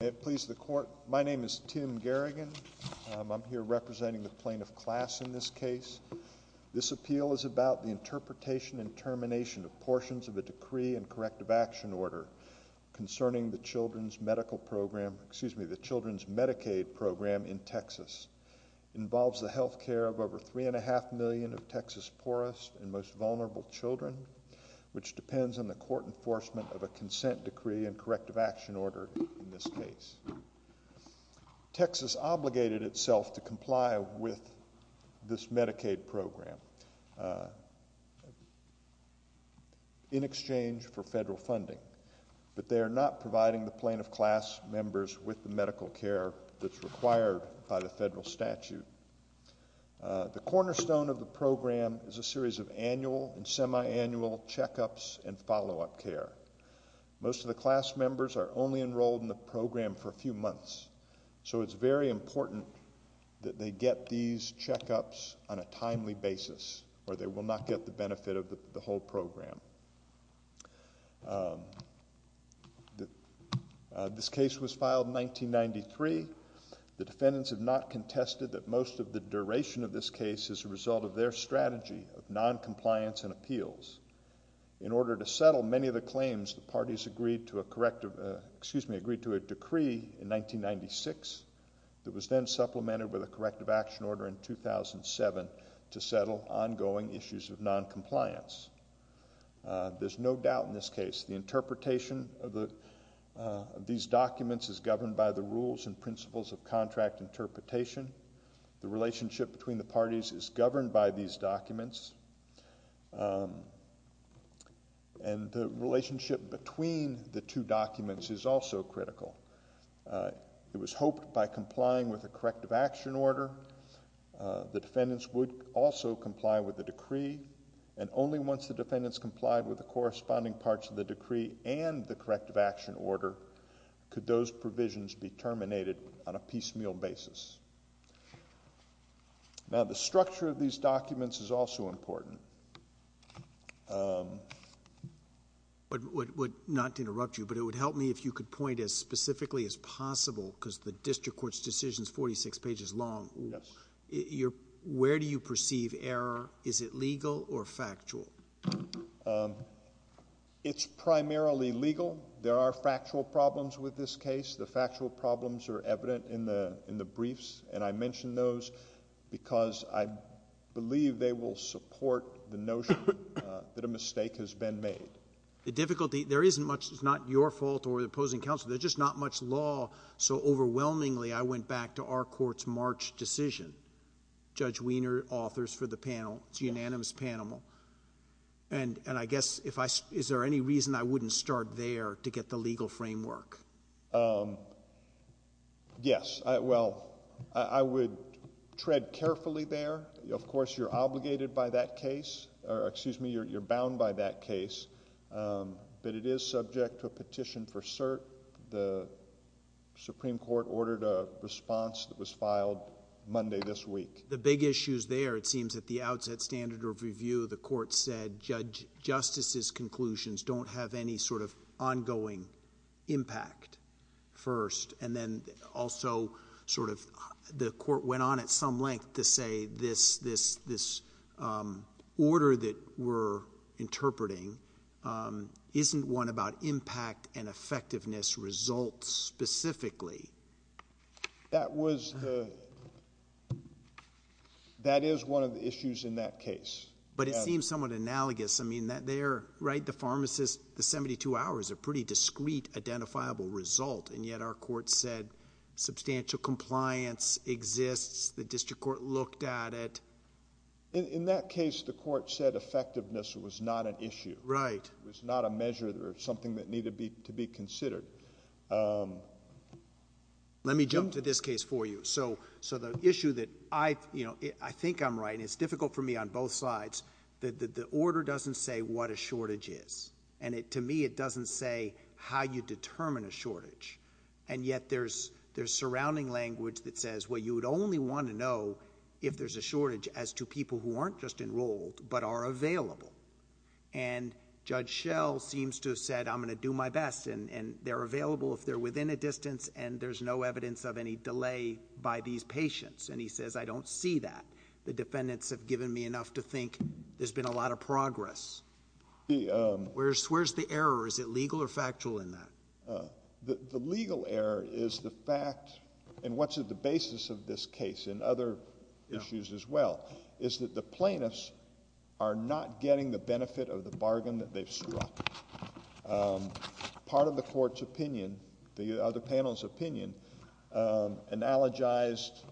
May it please the court, my name is Tim Garrigan. I'm here representing the plaintiff class in this case. This appeal is about the interpretation and termination of portions of a decree and corrective action order concerning the Children's Medical Program, excuse me, the Children's Medicaid Program in Texas. It involves the health care of over three and a half million of Texas poorest and most vulnerable children, which depends on the court enforcement of a consent decree and corrective action order in this case. Texas obligated itself to comply with this Medicaid program in exchange for federal funding, but they are not providing the plaintiff class members with the medical care that's required by the federal statute. The cornerstone of the program is a series of annual and semi-annual checkups and follow-up care. Most of the class members are only enrolled in the program for a few months, so it's very important that they get these checkups on a timely basis, or they will not get the benefit of the whole program. This case was filed in 1993. The defendants have not contested that most of the duration of this case is a result of their strategy of noncompliance and appeals. In order to settle many of the claims, the parties agreed to a decree in 1996 that was then supplemented with a corrective action order in 2007 to settle ongoing issues of noncompliance. There's no doubt in this case the interpretation of these documents is governed by the rules and principles of contract interpretation. The relationship between the parties is governed by these documents, and the relationship between the two documents is also critical. It was hoped by complying with a corrective action order, the defendants would also comply with the decree, and only once the defendants complied with the corresponding parts of the decree and the corrective action order could those provisions be terminated on a piecemeal basis. Now, the structure of these documents is also important. Not to interrupt you, but it would help me if you could point as specifically as possible, because the district court's decision is 46 pages long. Yes. Where do you perceive error? Is it legal or factual? It's primarily legal. There are factual problems with this case. The factual problems are evident in the briefs, and I mention those because I believe they will support the notion that a mistake has been made. The difficulty, there isn't much, it's not your fault or the opposing counsel, there's just not much law, so overwhelmingly I went back to our court's March decision. Judge Wiener, authors for the panel, it's unanimous panel. And I guess, is there any reason I wouldn't start there to get the legal framework? Yes. Well, I would tread carefully there. Of course, you're obligated by that case, or excuse me, you're bound by that case. But it is subject to a petition for cert. The Supreme Court ordered a response that was filed Monday this week. The big issue is there. It seems at the outset, standard of review, the court said, Justice's conclusions don't have any sort of ongoing impact first. And then also sort of the court went on at some length to say this order that we're interpreting isn't one about impact and effectiveness results specifically. That was the, that is one of the issues in that case. But it seems somewhat analogous. I mean, there, right, the pharmacist, the 72 hours, a pretty discreet identifiable result, and yet our court said substantial compliance exists. The district court looked at it. In that case, the court said effectiveness was not an issue. Right. It was not a measure or something that needed to be considered. Let me jump to this case for you. So the issue that I, you know, I think I'm right, and it's difficult for me on both sides, that the order doesn't say what a shortage is. And to me, it doesn't say how you determine a shortage. And yet there's surrounding language that says, well, you would only want to know if there's a shortage as to people who aren't just enrolled but are available. And Judge Schell seems to have said, I'm going to do my best. And they're available if they're within a distance and there's no evidence of any delay by these patients. And he says, I don't see that. The defendants have given me enough to think there's been a lot of progress. Where's the error? Is it legal or factual in that? The legal error is the fact, and what's at the basis of this case and other issues as well, is that the plaintiffs are not getting the benefit of the bargain that they've struck. Part of the court's opinion, the other panel's opinion, analogized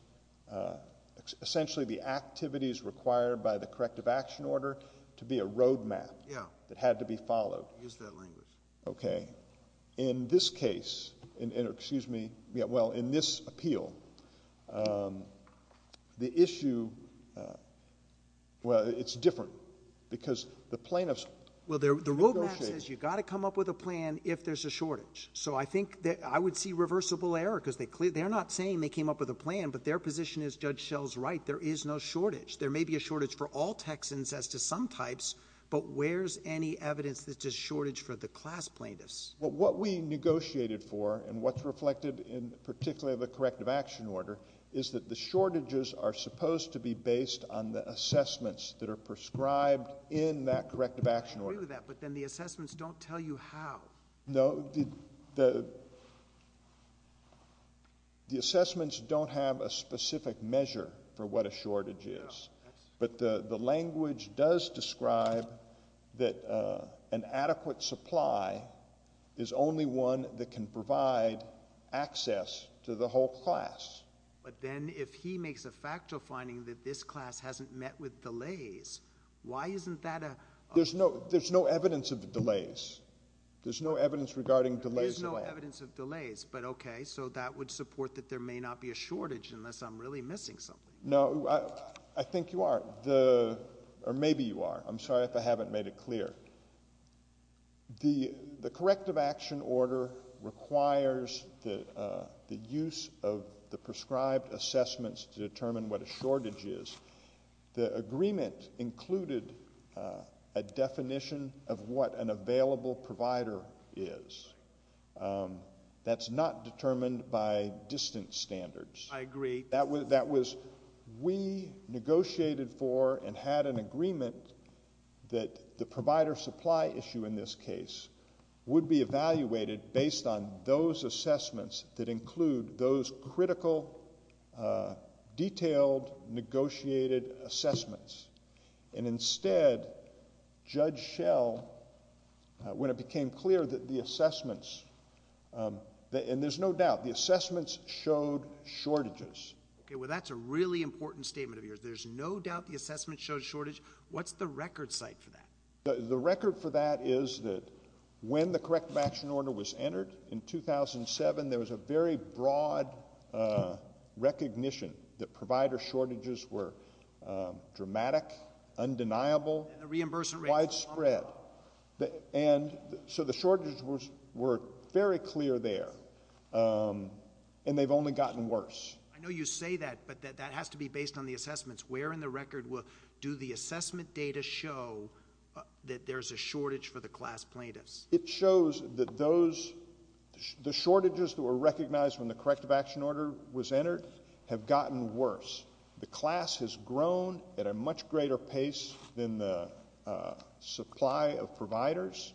essentially the activities required by the corrective action order to be a road map that had to be followed. Use that language. Okay. In this case, excuse me, well, in this appeal, the issue, well, it's different because the plaintiffs negotiated. Well, the road map says you've got to come up with a plan if there's a shortage. So I think that I would see reversible error because they're not saying they came up with a plan, but their position is Judge Schell's right. There is no shortage. There may be a shortage for all Texans as to some types, but where's any evidence that there's a shortage for the class plaintiffs? Well, what we negotiated for and what's reflected in particularly the corrective action order is that the shortages are supposed to be based on the assessments that are prescribed in that corrective action order. I agree with that, but then the assessments don't tell you how. No, the assessments don't have a specific measure for what a shortage is, but the language does describe that an adequate supply is only one that can provide access to the whole class. But then if he makes a factual finding that this class hasn't met with delays, why isn't that a – There's no evidence of delays. There's no evidence regarding delays at all. There's no evidence of delays, but okay, so that would support that there may not be a shortage unless I'm really missing something. No, I think you are, or maybe you are. I'm sorry if I haven't made it clear. The corrective action order requires the use of the prescribed assessments to determine what a shortage is. The agreement included a definition of what an available provider is. That's not determined by distance standards. I agree. That was we negotiated for and had an agreement that the provider supply issue in this case would be evaluated based on those assessments that include those critical, detailed, negotiated assessments. And instead, Judge Schell, when it became clear that the assessments – and there's no doubt, the assessments showed shortages. Okay, well that's a really important statement of yours. There's no doubt the assessments showed shortage. What's the record site for that? The record for that is that when the corrective action order was entered in 2007, there was a very broad recognition that provider shortages were dramatic, undeniable, widespread. And so the shortages were very clear there, and they've only gotten worse. I know you say that, but that has to be based on the assessments. Where in the record do the assessment data show that there's a shortage for the class plaintiffs? It shows that those – the shortages that were recognized when the corrective action order was entered have gotten worse. The class has grown at a much greater pace than the supply of providers.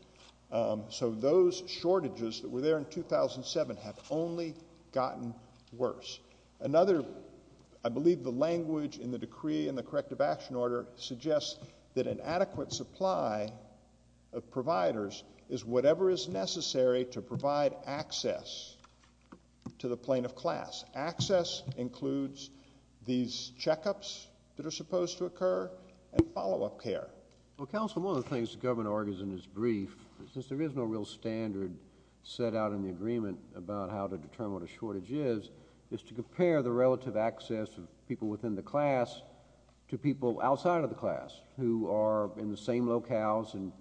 So those shortages that were there in 2007 have only gotten worse. Another – I believe the language in the decree in the corrective action order suggests that an adequate supply of providers is whatever is necessary to provide access to the plaintiff class. Access includes these checkups that are supposed to occur and follow-up care. Well, counsel, one of the things the government argues in its brief, since there is no real standard set out in the agreement about how to determine what a shortage is, is to compare the relative access of people within the class to people outside of the class who are in the same locales in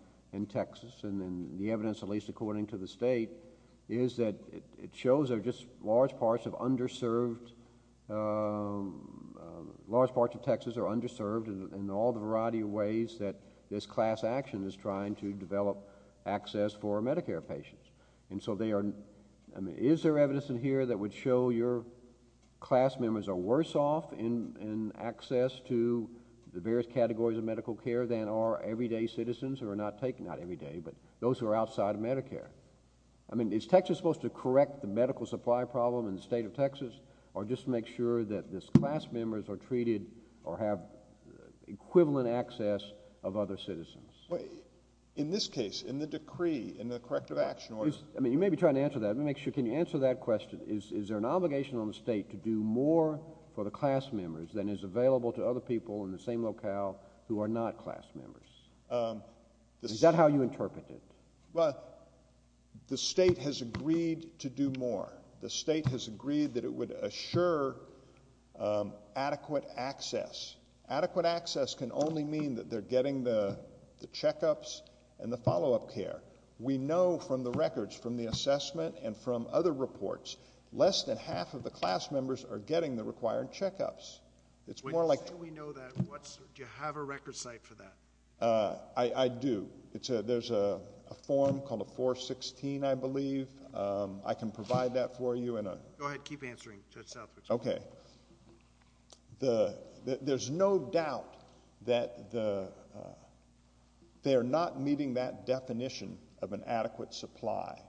Texas, and the evidence, at least according to the state, is that it shows there are just large parts of underserved – large parts of Texas are underserved in all the variety of ways that this class action is trying to develop access for Medicare patients. And so they are – I mean, is there evidence in here that would show your class members are worse off in access to the various categories of medical care than our everyday citizens who are not taking – not everyday, but those who are outside of Medicare? I mean, is Texas supposed to correct the medical supply problem in the state of Texas or just make sure that this class members are treated or have equivalent access of other citizens? In this case, in the decree, in the corrective action order – I mean, you may be trying to answer that. Let me make sure – can you answer that question? Is there an obligation on the state to do more for the class members than is available to other people in the same locale who are not class members? Is that how you interpret it? Well, the state has agreed to do more. The state has agreed that it would assure adequate access. Adequate access can only mean that they're getting the checkups and the follow-up care. We know from the records, from the assessment and from other reports, less than half of the class members are getting the required checkups. It's more like – Wait, just so we know that, do you have a record site for that? I do. There's a form called a 416, I believe. I can provide that for you in a – Go ahead. Keep answering, Judge Southwick. Okay. There's no doubt that they are not meeting that definition of an adequate supply.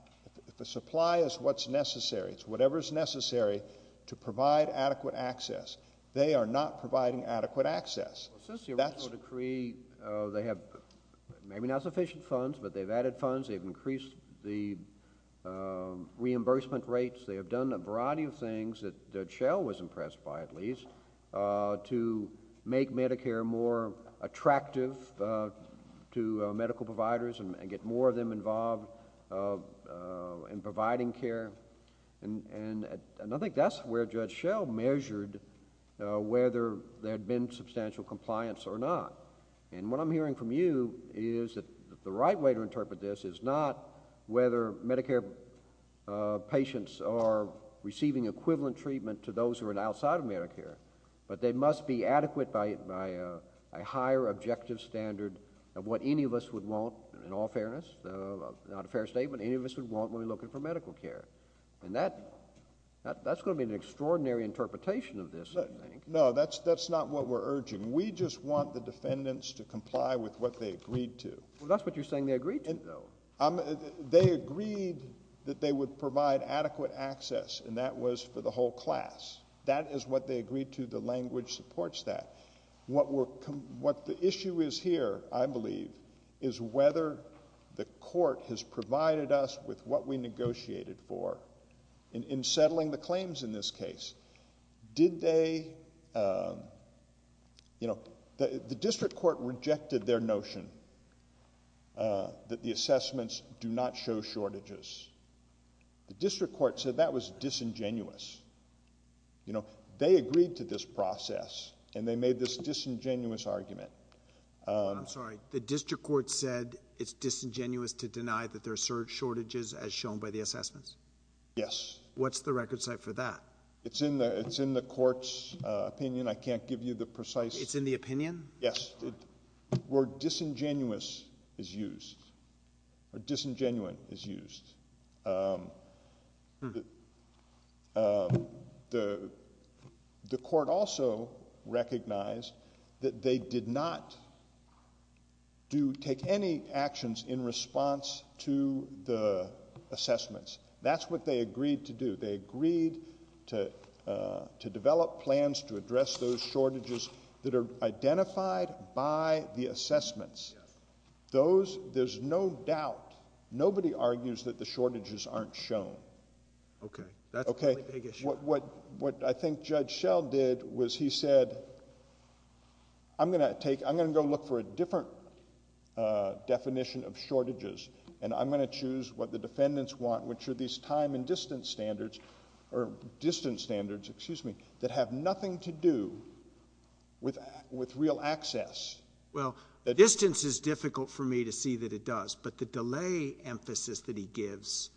The supply is what's necessary. It's whatever is necessary to provide adequate access. They are not providing adequate access. Since the original decree, they have maybe not sufficient funds, but they've added funds. They've increased the reimbursement rates. They have done a variety of things that Judge Schell was impressed by, at least, to make Medicare more attractive to medical providers and get more of them involved in providing care. I think that's where Judge Schell measured whether there had been substantial compliance or not. What I'm hearing from you is that the right way to interpret this is not whether Medicare patients are receiving equivalent treatment to those who are outside of Medicare, but they must be adequate by a higher objective standard of what any of us would want, in all fairness, not a fair statement, any of us would want when we're looking for medical care. That's going to be an extraordinary interpretation of this, I think. No, that's not what we're urging. We just want the defendants to comply with what they agreed to. Well, that's what you're saying they agreed to, though. They agreed that they would provide adequate access, and that was for the whole class. That is what they agreed to. The language supports that. What the issue is here, I believe, is whether the court has provided us with what we negotiated for. In settling the claims in this case, the district court rejected their notion that the assessments do not show shortages. The district court said that was disingenuous. They agreed to this process, and they made this disingenuous argument. I'm sorry, the district court said it's disingenuous to deny that there are shortages as shown by the assessments? Yes. What's the record set for that? It's in the court's opinion. I can't give you the precise— It's in the opinion? Yes. The word disingenuous is used, or disingenuine is used. The court also recognized that they did not take any actions in response to the assessments. That's what they agreed to do. They agreed to develop plans to address those shortages that are identified by the assessments. Yes. There's no doubt. Nobody argues that the shortages aren't shown. Okay. That's a really big issue. What I think Judge Schell did was he said, I'm going to go look for a different definition of shortages, and I'm going to choose what the defendants want, which are these time and distance standards that have nothing to do with real access. Well, distance is difficult for me to see that it does, but the delay emphasis that he gives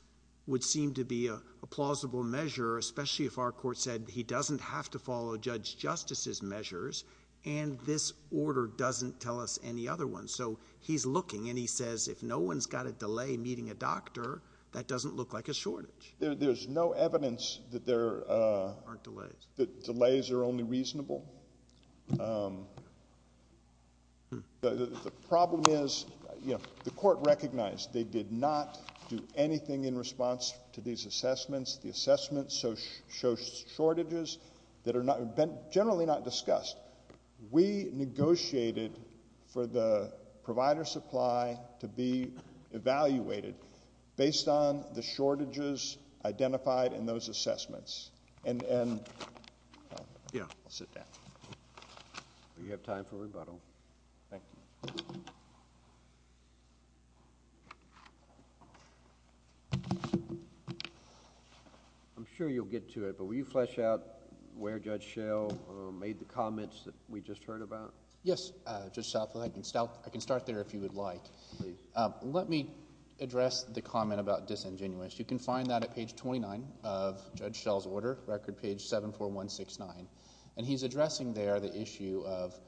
would seem to be a plausible measure, especially if our court said he doesn't have to follow Judge Justice's measures, and this order doesn't tell us any other ones. So he's looking, and he says if no one's got a delay meeting a doctor, that doesn't look like a shortage. There's no evidence that delays are only reasonable. The problem is the court recognized they did not do anything in response to these assessments. The assessments show shortages that are generally not discussed. We negotiated for the provider supply to be evaluated based on the shortages identified in those assessments. Yeah, I'll sit down. We have time for rebuttal. Thank you. I'm sure you'll get to it, but will you flesh out where Judge Schell made the comments that we just heard about? Yes, Judge Southwell, I can start there if you would like. Please. Let me address the comment about disingenuous. You can find that at page 29 of Judge Schell's order, record page 74169, and he's addressing there the issue of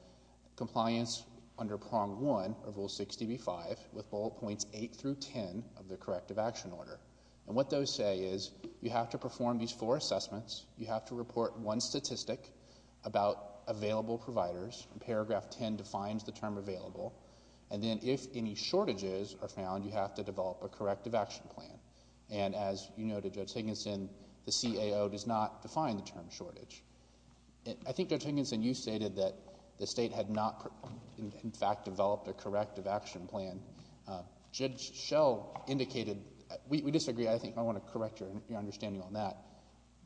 compliance under prong 1 of Rule 60B-5 with bullet points 8 through 10 of the corrective action order. And what those say is you have to perform these four assessments. You have to report one statistic about available providers. Paragraph 10 defines the term available. And then if any shortages are found, you have to develop a corrective action plan. And as you noted, Judge Higginson, the CAO does not define the term shortage. I think, Judge Higginson, you stated that the state had not, in fact, developed a corrective action plan. Judge Schell indicated we disagree. I think I want to correct your understanding on that.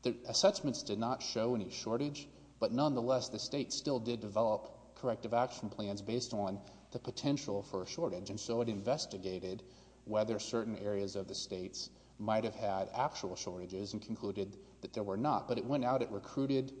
The assessments did not show any shortage, but nonetheless the state still did develop corrective action plans based on the potential for a shortage. And so it investigated whether certain areas of the states might have had actual shortages and concluded that there were not. But it went out. It recruited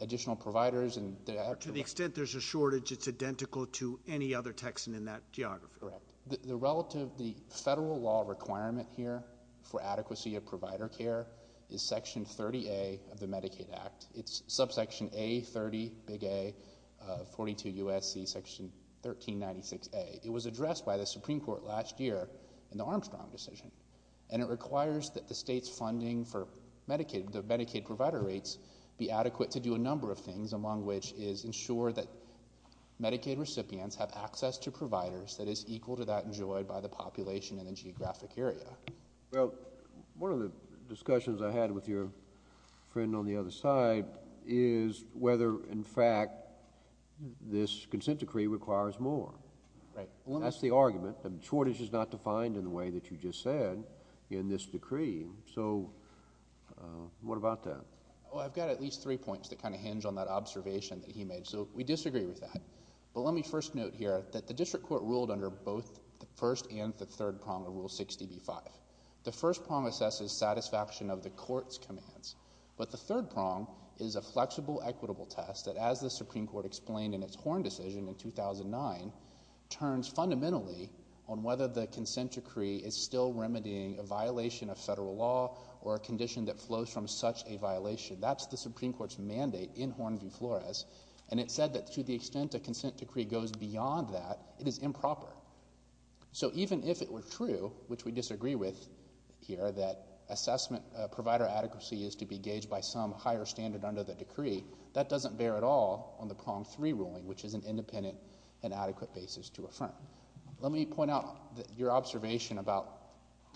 additional providers. To the extent there's a shortage, it's identical to any other Texan in that geography. Correct. The federal law requirement here for adequacy of provider care is Section 30A of the Medicaid Act. It's subsection A30, big A, 42 U.S.C., section 1396A. It was addressed by the Supreme Court last year in the Armstrong decision. And it requires that the state's funding for Medicaid, the Medicaid provider rates, be adequate to do a number of things, among which is ensure that Medicaid recipients have access to providers that is equal to that enjoyed by the population in the geographic area. Well, one of the discussions I had with your friend on the other side is whether, in fact, this consent decree requires more. Right. That's the argument. A shortage is not defined in the way that you just said in this decree. So what about that? Well, I've got at least three points that kind of hinge on that observation that he made. So we disagree with that. But let me first note here that the district court ruled under both the first and the third prong of Rule 60b-5. The first prong assesses satisfaction of the court's commands. But the third prong is a flexible, equitable test that, as the Supreme Court explained in its Horn decision in 2009, turns fundamentally on whether the consent decree is still remedying a violation of federal law or a condition that flows from such a violation. And it said that to the extent a consent decree goes beyond that, it is improper. So even if it were true, which we disagree with here, that assessment provider adequacy is to be gauged by some higher standard under the decree, that doesn't bear at all on the prong three ruling, which is an independent and adequate basis to affirm. Let me point out that your observation about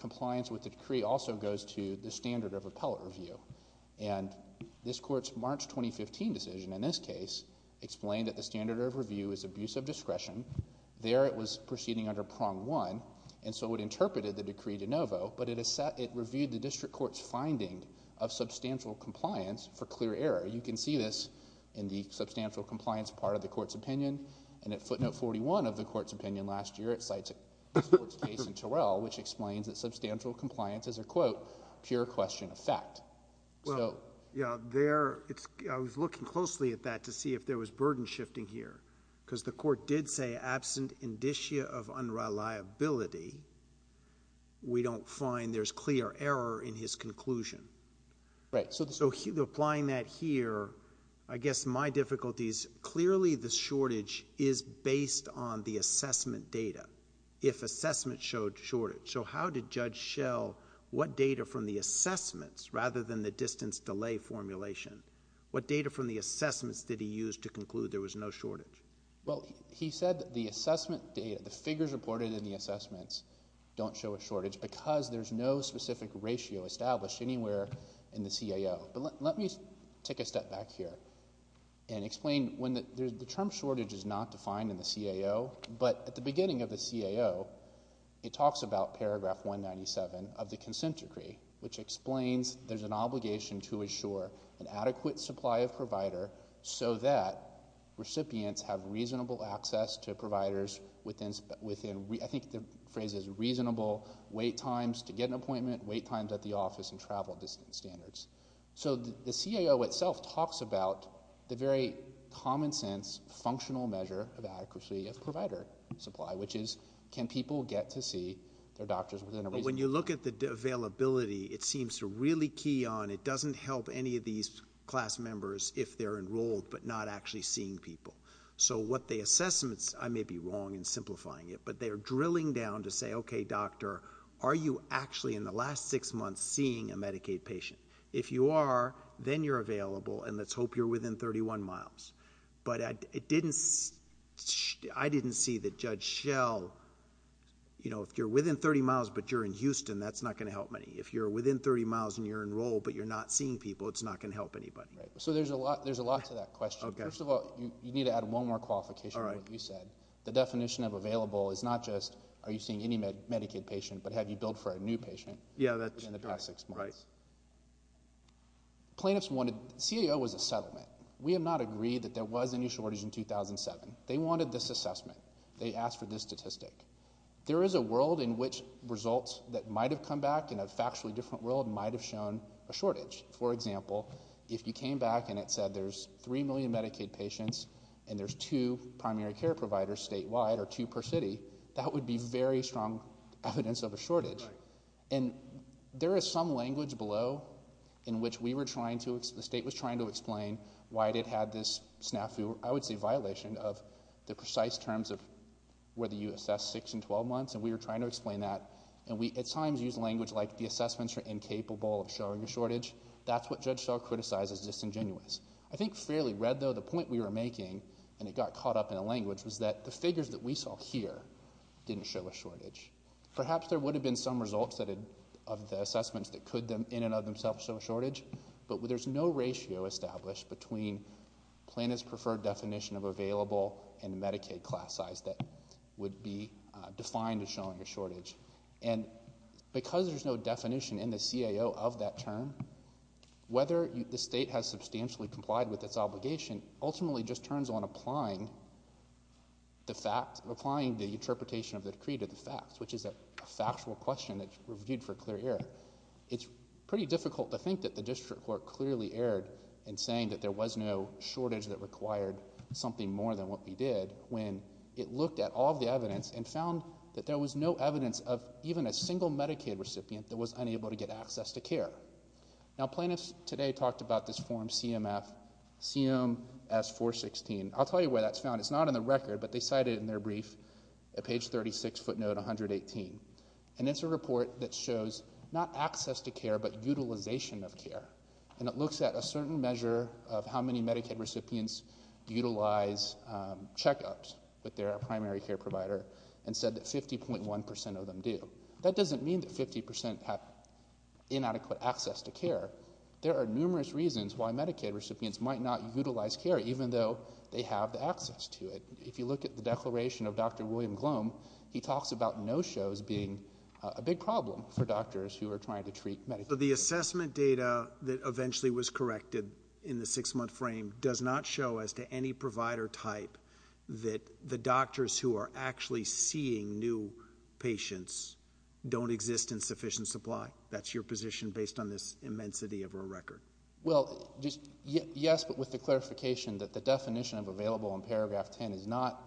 compliance with the decree also goes to the standard of appellate review. And this court's March 2015 decision in this case explained that the standard of review is abuse of discretion. There it was proceeding under prong one, and so it interpreted the decree de novo. But it reviewed the district court's finding of substantial compliance for clear error. You can see this in the substantial compliance part of the court's opinion. And at footnote 41 of the court's opinion last year, it cites this court's case in Terrell, which explains that substantial compliance is a, quote, pure question of fact. Well, yeah, I was looking closely at that to see if there was burden shifting here because the court did say absent indicia of unreliability, we don't find there's clear error in his conclusion. Right. So applying that here, I guess my difficulty is clearly the shortage is based on the assessment data. If assessment showed shortage. So how did Judge Schell, what data from the assessments rather than the distance delay formulation, what data from the assessments did he use to conclude there was no shortage? Well, he said that the assessment data, the figures reported in the assessments don't show a shortage because there's no specific ratio established anywhere in the CAO. But let me take a step back here and explain when the term shortage is not defined in the CAO, but at the beginning of the CAO, it talks about paragraph 197 of the consent decree, which explains there's an obligation to assure an adequate supply of provider so that recipients have reasonable access to providers within, I think the phrase is reasonable wait times to get an appointment, wait times at the office, and travel distance standards. So the CAO itself talks about the very common sense functional measure of adequacy of provider supply, which is can people get to see their doctors within a reasonable time? When you look at the availability, it seems to really key on, it doesn't help any of these class members if they're enrolled but not actually seeing people. So what the assessments, I may be wrong in simplifying it, but they're drilling down to say, okay, doctor, are you actually in the last six months seeing a Medicaid patient? If you are, then you're available, and let's hope you're within 31 miles. But I didn't see that Judge Schell, you know, if you're within 30 miles but you're in Houston, that's not going to help many. If you're within 30 miles and you're enrolled but you're not seeing people, it's not going to help anybody. So there's a lot to that question. First of all, you need to add one more qualification to what you said. The definition of available is not just are you seeing any Medicaid patient but have you billed for a new patient in the past six months. CIO was a settlement. We have not agreed that there was any shortage in 2007. They wanted this assessment. They asked for this statistic. There is a world in which results that might have come back in a factually different world might have shown a shortage. For example, if you came back and it said there's 3 million Medicaid patients and there's two primary care providers statewide or two per city, that would be very strong evidence of a shortage. And there is some language below in which we were trying to, the state was trying to explain why it had this snafu, I would say violation, of the precise terms of whether you assess 6 and 12 months, and we were trying to explain that. And we at times used language like the assessments are incapable of showing a shortage. That's what Judge Schell criticized as disingenuous. I think fairly read, though, the point we were making, and it got caught up in the language, was that the figures that we saw here didn't show a shortage. Perhaps there would have been some results of the assessments that could in and of themselves show a shortage, but there's no ratio established between Planned Parenthood's preferred definition of available and Medicaid class size that would be defined as showing a shortage. And because there's no definition in the CIO of that term, whether the state has substantially complied with its obligation ultimately just turns on applying the fact, applying the interpretation of the decree to the facts, which is a factual question that's reviewed for clear error. It's pretty difficult to think that the district court clearly erred in saying that there was no shortage that required something more than what we did when it looked at all of the evidence and found that there was no evidence of even a single Medicaid recipient that was unable to get access to care. Now, plaintiffs today talked about this form CMS-416. I'll tell you where that's found. It's not in the record, but they cite it in their brief at page 36, footnote 118. And it's a report that shows not access to care but utilization of care, and it looks at a certain measure of how many Medicaid recipients utilize checkups with their primary care provider and said that 50.1 percent of them do. That doesn't mean that 50 percent have inadequate access to care. There are numerous reasons why Medicaid recipients might not utilize care even though they have the access to it. If you look at the declaration of Dr. William Glom, he talks about no-shows being a big problem for doctors who are trying to treat Medicaid. The assessment data that eventually was corrected in the six-month frame does not show, as to any provider type, that the doctors who are actually seeing new patients don't exist in sufficient supply. That's your position based on this immensity of a record. Well, yes, but with the clarification that the definition of available in paragraph 10 does not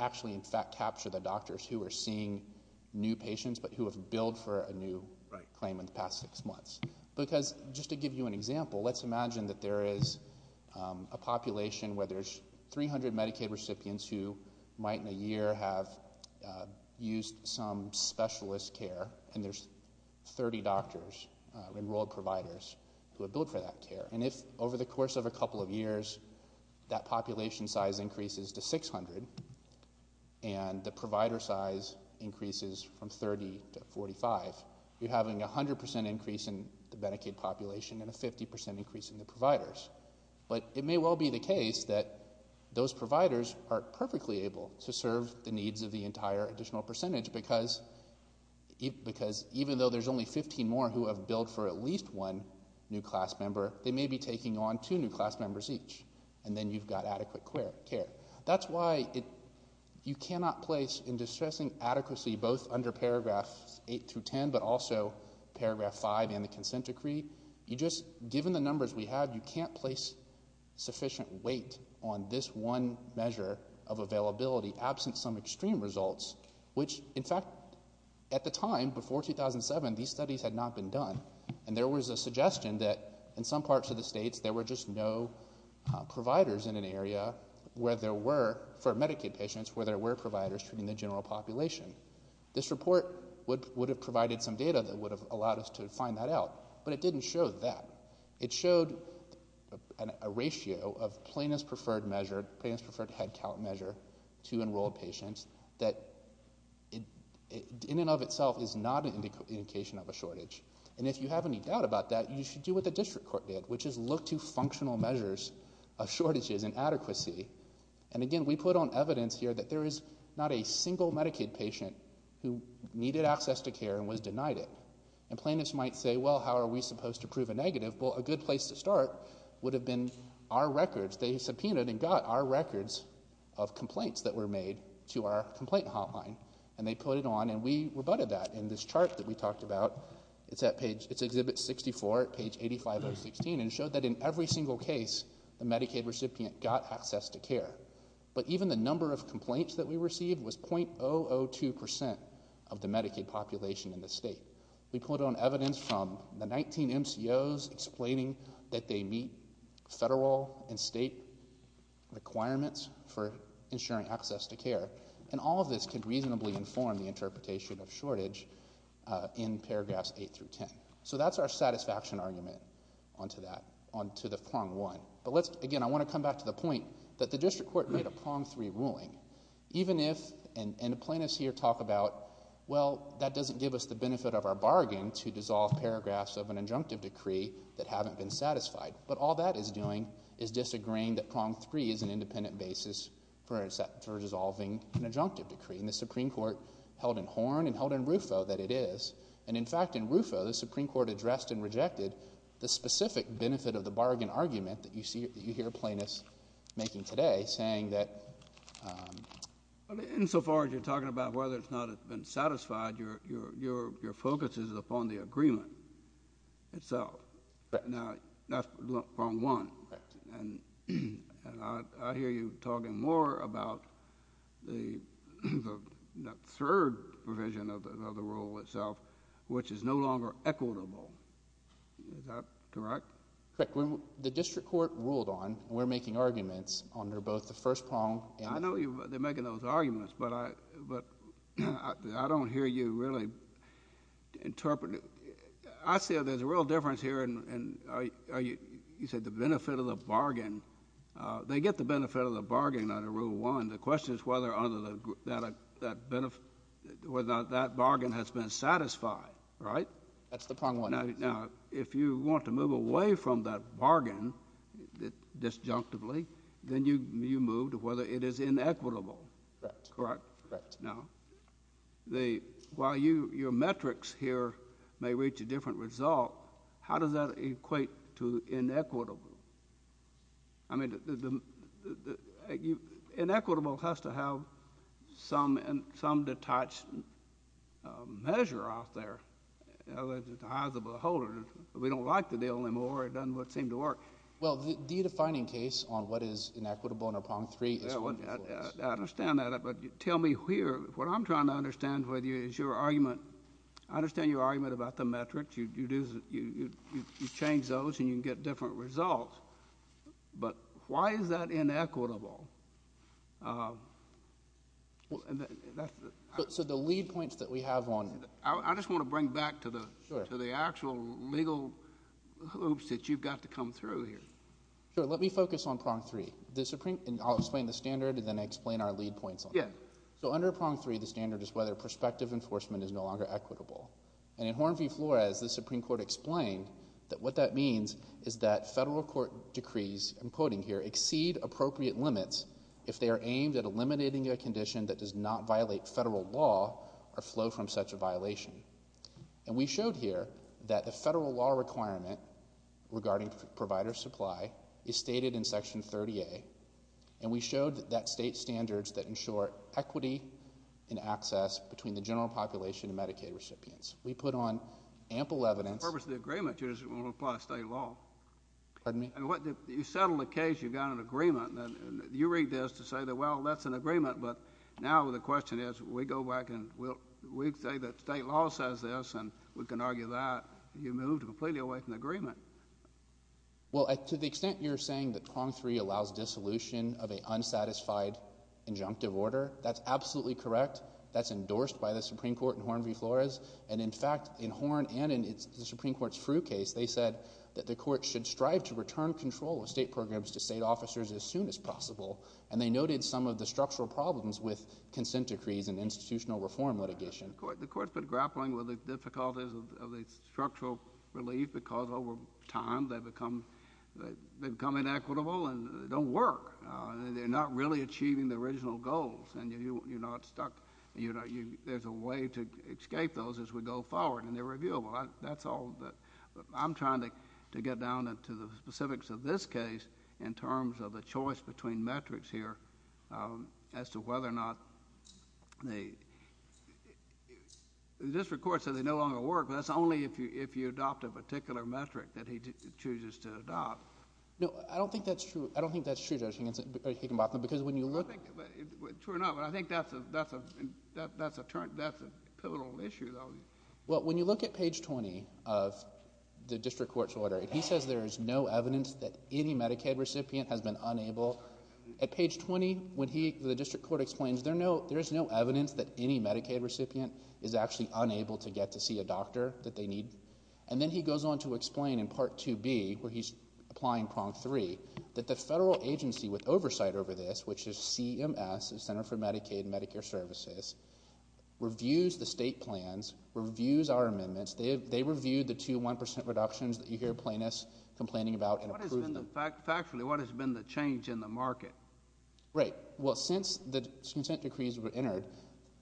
actually, in fact, capture the doctors who are seeing new patients but who have billed for a new claim in the past six months. Because just to give you an example, let's imagine that there is a population where there's 300 Medicaid recipients who might in a year have used some specialist care and there's 30 doctors, enrolled providers, who have billed for that care. And if over the course of a couple of years that population size increases to 600 and the provider size increases from 30 to 45, you're having a 100% increase in the Medicaid population and a 50% increase in the providers. But it may well be the case that those providers are perfectly able to serve the needs of the entire additional percentage because even though there's only 15 more who have billed for at least one new class member, they may be taking on two new class members each, and then you've got adequate care. That's why you cannot place in distressing adequacy both under paragraphs 8 through 10 but also paragraph 5 in the consent decree. You just, given the numbers we have, you can't place sufficient weight on this one measure of availability absent some extreme results, which, in fact, at the time, before 2007, these studies had not been done. And there was a suggestion that in some parts of the states there were just no providers in an area where there were, for Medicaid patients, where there were providers treating the general population. This report would have provided some data that would have allowed us to find that out, but it didn't show that. It showed a ratio of plaintiff's preferred measure, plaintiff's preferred head count measure to enrolled patients that in and of itself is not an indication of a shortage. And if you have any doubt about that, you should do what the district court did, which is look to functional measures of shortages and adequacy. And again, we put on evidence here that there is not a single Medicaid patient who needed access to care and was denied it. And plaintiffs might say, well, how are we supposed to prove a negative? Well, a good place to start would have been our records. They subpoenaed and got our records of complaints that were made to our complaint hotline. And they put it on, and we rebutted that in this chart that we talked about. It's at page 64, page 85016, and it showed that in every single case the Medicaid recipient got access to care. But even the number of complaints that we received was .002% of the Medicaid population in the state. We put on evidence from the 19 MCOs explaining that they meet federal and state requirements for ensuring access to care. And all of this could reasonably inform the interpretation of shortage in paragraphs 8 through 10. So that's our satisfaction argument onto that, onto the prong one. But again, I want to come back to the point that the district court made a prong three ruling. Even if, and the plaintiffs here talk about, well, that doesn't give us the benefit of our bargain to dissolve paragraphs of an injunctive decree that haven't been satisfied. But all that is doing is disagreeing that prong three is an independent basis for dissolving an injunctive decree. And the Supreme Court held in Horn and held in Rufo that it is. And, in fact, in Rufo the Supreme Court addressed and rejected the specific benefit of the bargain argument that you hear plaintiffs making today, saying that... Insofar as you're talking about whether it's not been satisfied, your focus is upon the agreement itself. Now, that's prong one. And I hear you talking more about the third provision of the rule itself, which is no longer equitable. Is that correct? Correct. When the district court ruled on, we're making arguments under both the first prong and... I know they're making those arguments, but I don't hear you really interpret it. I see there's a real difference here in, you said, the benefit of the bargain. They get the benefit of the bargain under Rule 1. The question is whether that bargain has been satisfied, right? That's the prong one. Now, if you want to move away from that bargain disjunctively, then you move to whether it is inequitable. Correct? Correct. Now, while your metrics here may reach a different result, how does that equate to inequitable? I mean, inequitable has to have some detached measure off there. As a beholder, we don't like the deal anymore. It doesn't seem to work. Well, the defining case on what is inequitable under prong three is... I understand that, but tell me here, what I'm trying to understand with you is your argument. I understand your argument about the metrics. You change those, and you can get different results, but why is that inequitable? So the lead points that we have on... I just want to bring back to the actual legal hoops that you've got to come through here. Sure. Let me focus on prong three. I'll explain the standard, and then I'll explain our lead points on it. Yeah. So under prong three, the standard is whether prospective enforcement is no longer equitable. And in Horn v. Flores, the Supreme Court explained that what that means is that federal court decrees, I'm quoting here, exceed appropriate limits if they are aimed at eliminating a condition that does not violate federal law or flow from such a violation. And we showed here that the federal law requirement regarding provider supply is stated in Section 30A, and we showed that state standards that ensure equity and access between the general population and Medicaid recipients. We put on ample evidence... For the purpose of the agreement, you just want to apply state law. Pardon me? You settled a case, you've got an agreement, and you read this to say that, well, that's an agreement, but now the question is, we go back and we say that state law says this, and we can argue that. You've moved completely away from the agreement. Well, to the extent you're saying that prong three allows dissolution of an unsatisfied injunctive order, that's absolutely correct. That's endorsed by the Supreme Court in Horn v. Flores. And, in fact, in Horn and in the Supreme Court's Frueh case, they said that the court should strive to return control of state programs to state officers as soon as possible. And they noted some of the structural problems with consent decrees and institutional reform litigation. The court's been grappling with the difficulties of the structural relief because, over time, they become inequitable and they don't work. They're not really achieving the original goals, and you're not stuck. There's a way to escape those as we go forward, and they're reviewable. I'm trying to get down to the specifics of this case in terms of the choice between metrics here as to whether or not the district court says they no longer work, but that's only if you adopt a particular metric that he chooses to adopt. No, I don't think that's true. I don't think that's true, Judge Higginbotham, because when you look— True enough, but I think that's a pivotal issue, though. Well, when you look at page 20 of the district court's order, he says there is no evidence that any Medicaid recipient has been unable— At page 20, when he—the district court explains there is no evidence that any Medicaid recipient is actually unable to get to see a doctor that they need. And then he goes on to explain in Part 2B, where he's applying Prong 3, that the federal agency with oversight over this, which is CMS, the Center for Medicaid and Medicare Services, reviews the state plans, reviews our amendments. They reviewed the two 1% reductions that you hear plaintiffs complaining about and approved them. Factually, what has been the change in the market? Right. Well, since the consent decrees were entered,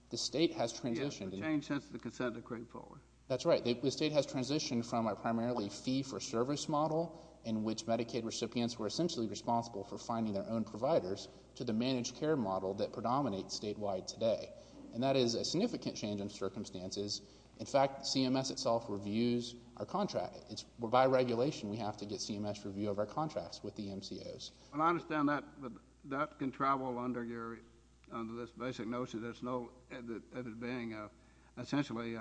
the state has transitioned— Yes, the change since the consent decree forward. That's right. The state has transitioned from a primarily fee-for-service model, in which Medicaid recipients were essentially responsible for finding their own providers, to the managed care model that predominates statewide today. And that is a significant change in circumstances. In fact, CMS itself reviews our contract. By regulation, we have to get CMS review of our contracts with the MCOs. Well, I understand that. But that can travel under your—under this basic notion that it's no—that it's being essentially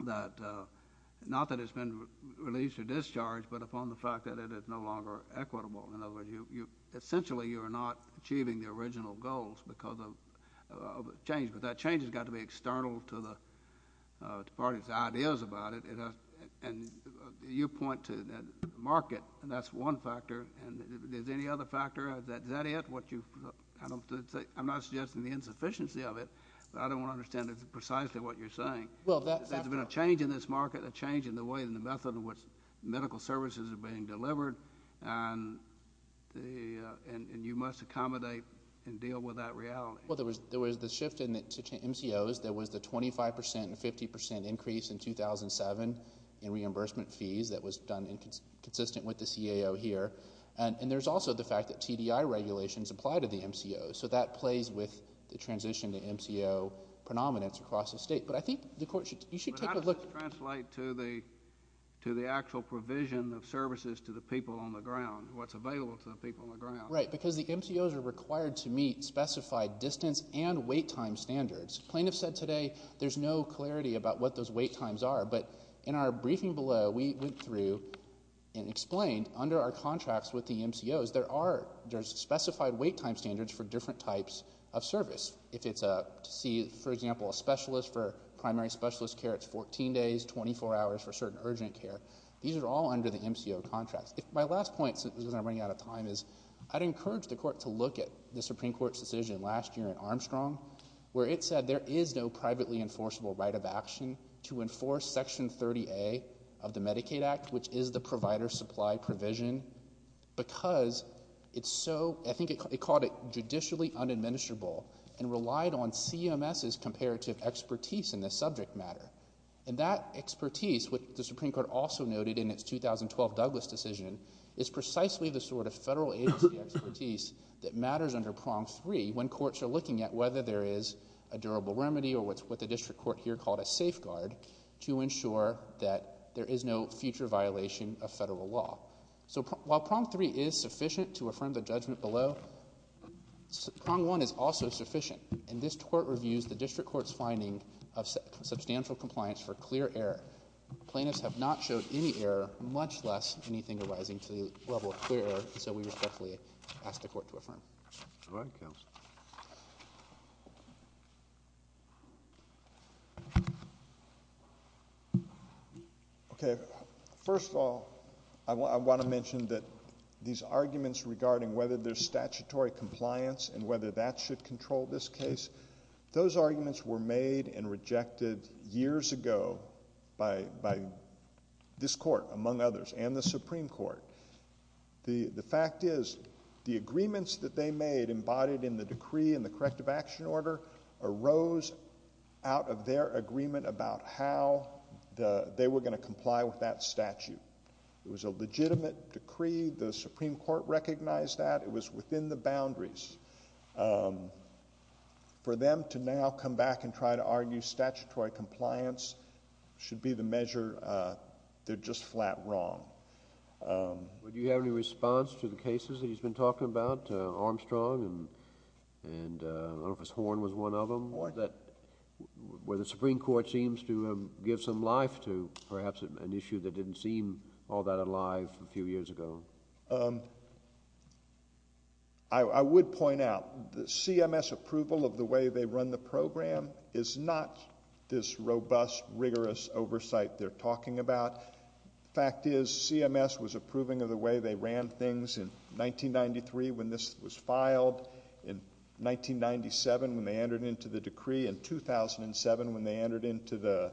that— not that it's been released or discharged, but upon the fact that it is no longer equitable. In other words, you—essentially you are not achieving the original goals because of change. But that change has got to be external to the parties' ideas about it. And you point to the market, and that's one factor. And is there any other factor? Is that it? What you—I'm not suggesting the insufficiency of it, but I don't want to understand precisely what you're saying. Well, that's— There's been a change in this market, a change in the way and the method in which medical services are being delivered. And the—and you must accommodate and deal with that reality. Well, there was the shift in the MCOs. There was the 25 percent and 50 percent increase in 2007 in reimbursement fees that was done consistent with the CAO here. And there's also the fact that TDI regulations apply to the MCOs. So that plays with the transition to MCO predominance across the state. But I think the Court should—you should take a look— Well, that does translate to the actual provision of services to the people on the ground, what's available to the people on the ground. Right, because the MCOs are required to meet specified distance and wait time standards. The plaintiff said today there's no clarity about what those wait times are. But in our briefing below, we went through and explained under our contracts with the MCOs, there are—there's specified wait time standards for different types of service. If it's a—to see, for example, a specialist for primary specialist care, it's 14 days, 24 hours for certain urgent care. These are all under the MCO contracts. My last point, since we're running out of time, is I'd encourage the Court to look at the Supreme Court's decision last year in Armstrong, where it said there is no privately enforceable right of action to enforce Section 30A of the Medicaid Act, which is the provider supply provision, because it's so—I think it called it judicially unadministrable and relied on CMS's comparative expertise in this subject matter. And that expertise, which the Supreme Court also noted in its 2012 Douglas decision, is precisely the sort of federal agency expertise that matters under Prong 3 when courts are looking at whether there is a durable remedy or what the district court here called a safeguard to ensure that there is no future violation of federal law. So while Prong 3 is sufficient to affirm the judgment below, Prong 1 is also sufficient. And this Court reviews the district court's finding of substantial compliance for clear error. Plaintiffs have not showed any error, much less anything arising to the level of clear error, so we respectfully ask the Court to affirm. All right, Counsel. Okay, first of all, I want to mention that these arguments regarding whether there's statutory compliance and whether that should control this case, those arguments were made and rejected years ago by this Court, among others, and the Supreme Court. The fact is the agreements that they made embodied in the decree and the corrective action order arose out of their agreement about how they were going to comply with that statute. It was a legitimate decree. The Supreme Court recognized that. It was within the boundaries. For them to now come back and try to argue statutory compliance should be the measure they're just flat wrong. Do you have any response to the cases that he's been talking about, Armstrong and I don't know if it's Horn was one of them, where the Supreme Court seems to have given some life to perhaps an issue that didn't seem all that alive a few years ago? I would point out the CMS approval of the way they run the program is not this robust, rigorous oversight they're talking about. The fact is CMS was approving of the way they ran things in 1993 when this was filed, in 1997 when they entered into the decree, in 2007 when they entered into the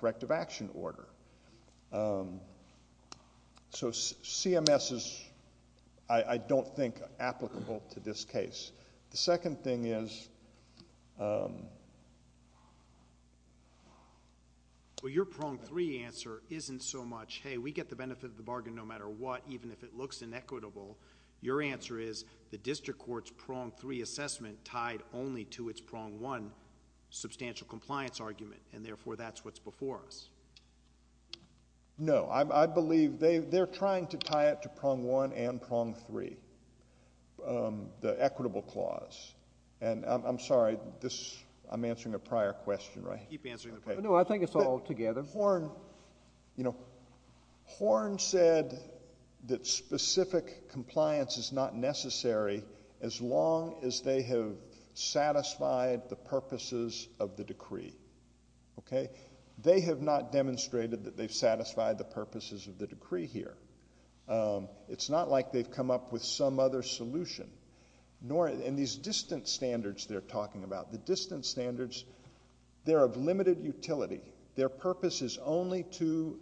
corrective action order. So CMS is, I don't think, applicable to this case. The second thing is... Well, your prong three answer isn't so much, hey, we get the benefit of the bargain no matter what, even if it looks inequitable. Your answer is the district court's prong three assessment tied only to its prong one substantial compliance argument, and therefore that's what's before us. No. I believe they're trying to tie it to prong one and prong three, the equitable clause. And I'm sorry, I'm answering a prior question, right? Keep answering the prior question. No, I think it's all together. Horn said that specific compliance is not necessary as long as they have satisfied the purposes of the decree. Okay? They have not demonstrated that they've satisfied the purposes of the decree here. It's not like they've come up with some other solution. And these distance standards they're talking about, the distance standards, they're of limited utility. Their purpose is only to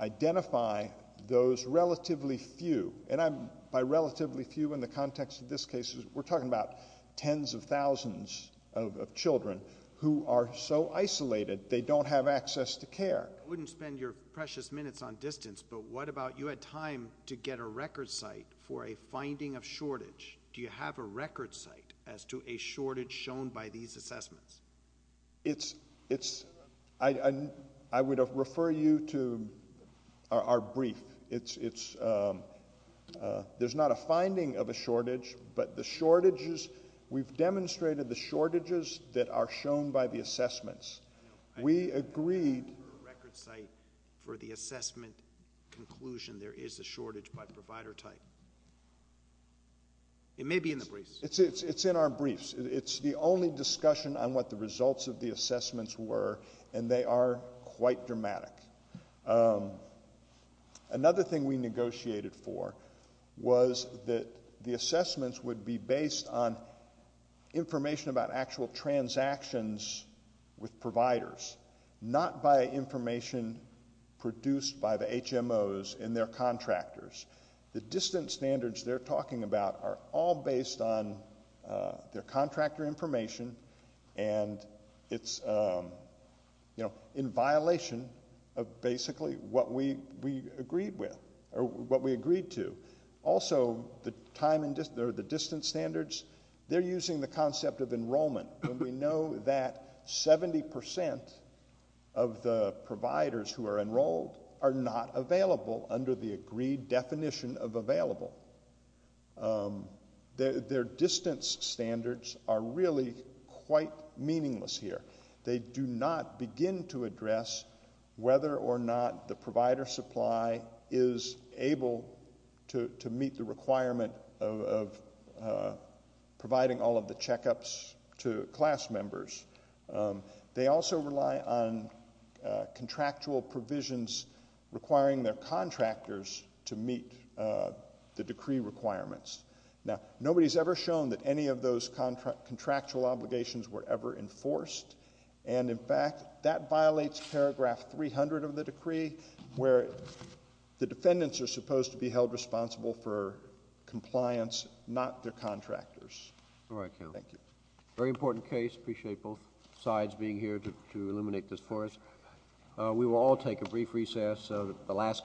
identify those relatively few. And by relatively few in the context of this case, we're talking about tens of thousands of children who are so isolated they don't have access to care. I wouldn't spend your precious minutes on distance, but what about you had time to get a record site for a finding of shortage. Do you have a record site as to a shortage shown by these assessments? It's, I would refer you to our brief. It's, there's not a finding of a shortage, but the shortages, we've demonstrated the shortages that are shown by the assessments. We agreed. Record site for the assessment conclusion there is a shortage by provider type. It may be in the briefs. It's in our briefs. It's the only discussion on what the results of the assessments were, and they are quite dramatic. Another thing we negotiated for was that the assessments would be based on information about actual transactions with providers, not by information produced by the HMOs and their contractors. The distance standards they're talking about are all based on their contractor information, and it's, you know, in violation of basically what we agreed with or what we agreed to. Also, the time or the distance standards, they're using the concept of enrollment, and we know that 70% of the providers who are enrolled are not available under the agreed definition of available. Their distance standards are really quite meaningless here. They do not begin to address whether or not the provider supply is able to meet the requirement of providing all of the checkups to class members. They also rely on contractual provisions requiring their contractors to meet the decree requirements. Now, nobody's ever shown that any of those contractual obligations were ever enforced, and, in fact, that violates paragraph 300 of the decree, where the defendants are supposed to be held responsible for compliance, not their contractors. All right, Counselor. Thank you. Very important case. Appreciate both sides being here to illuminate this for us. We will all take a brief recess.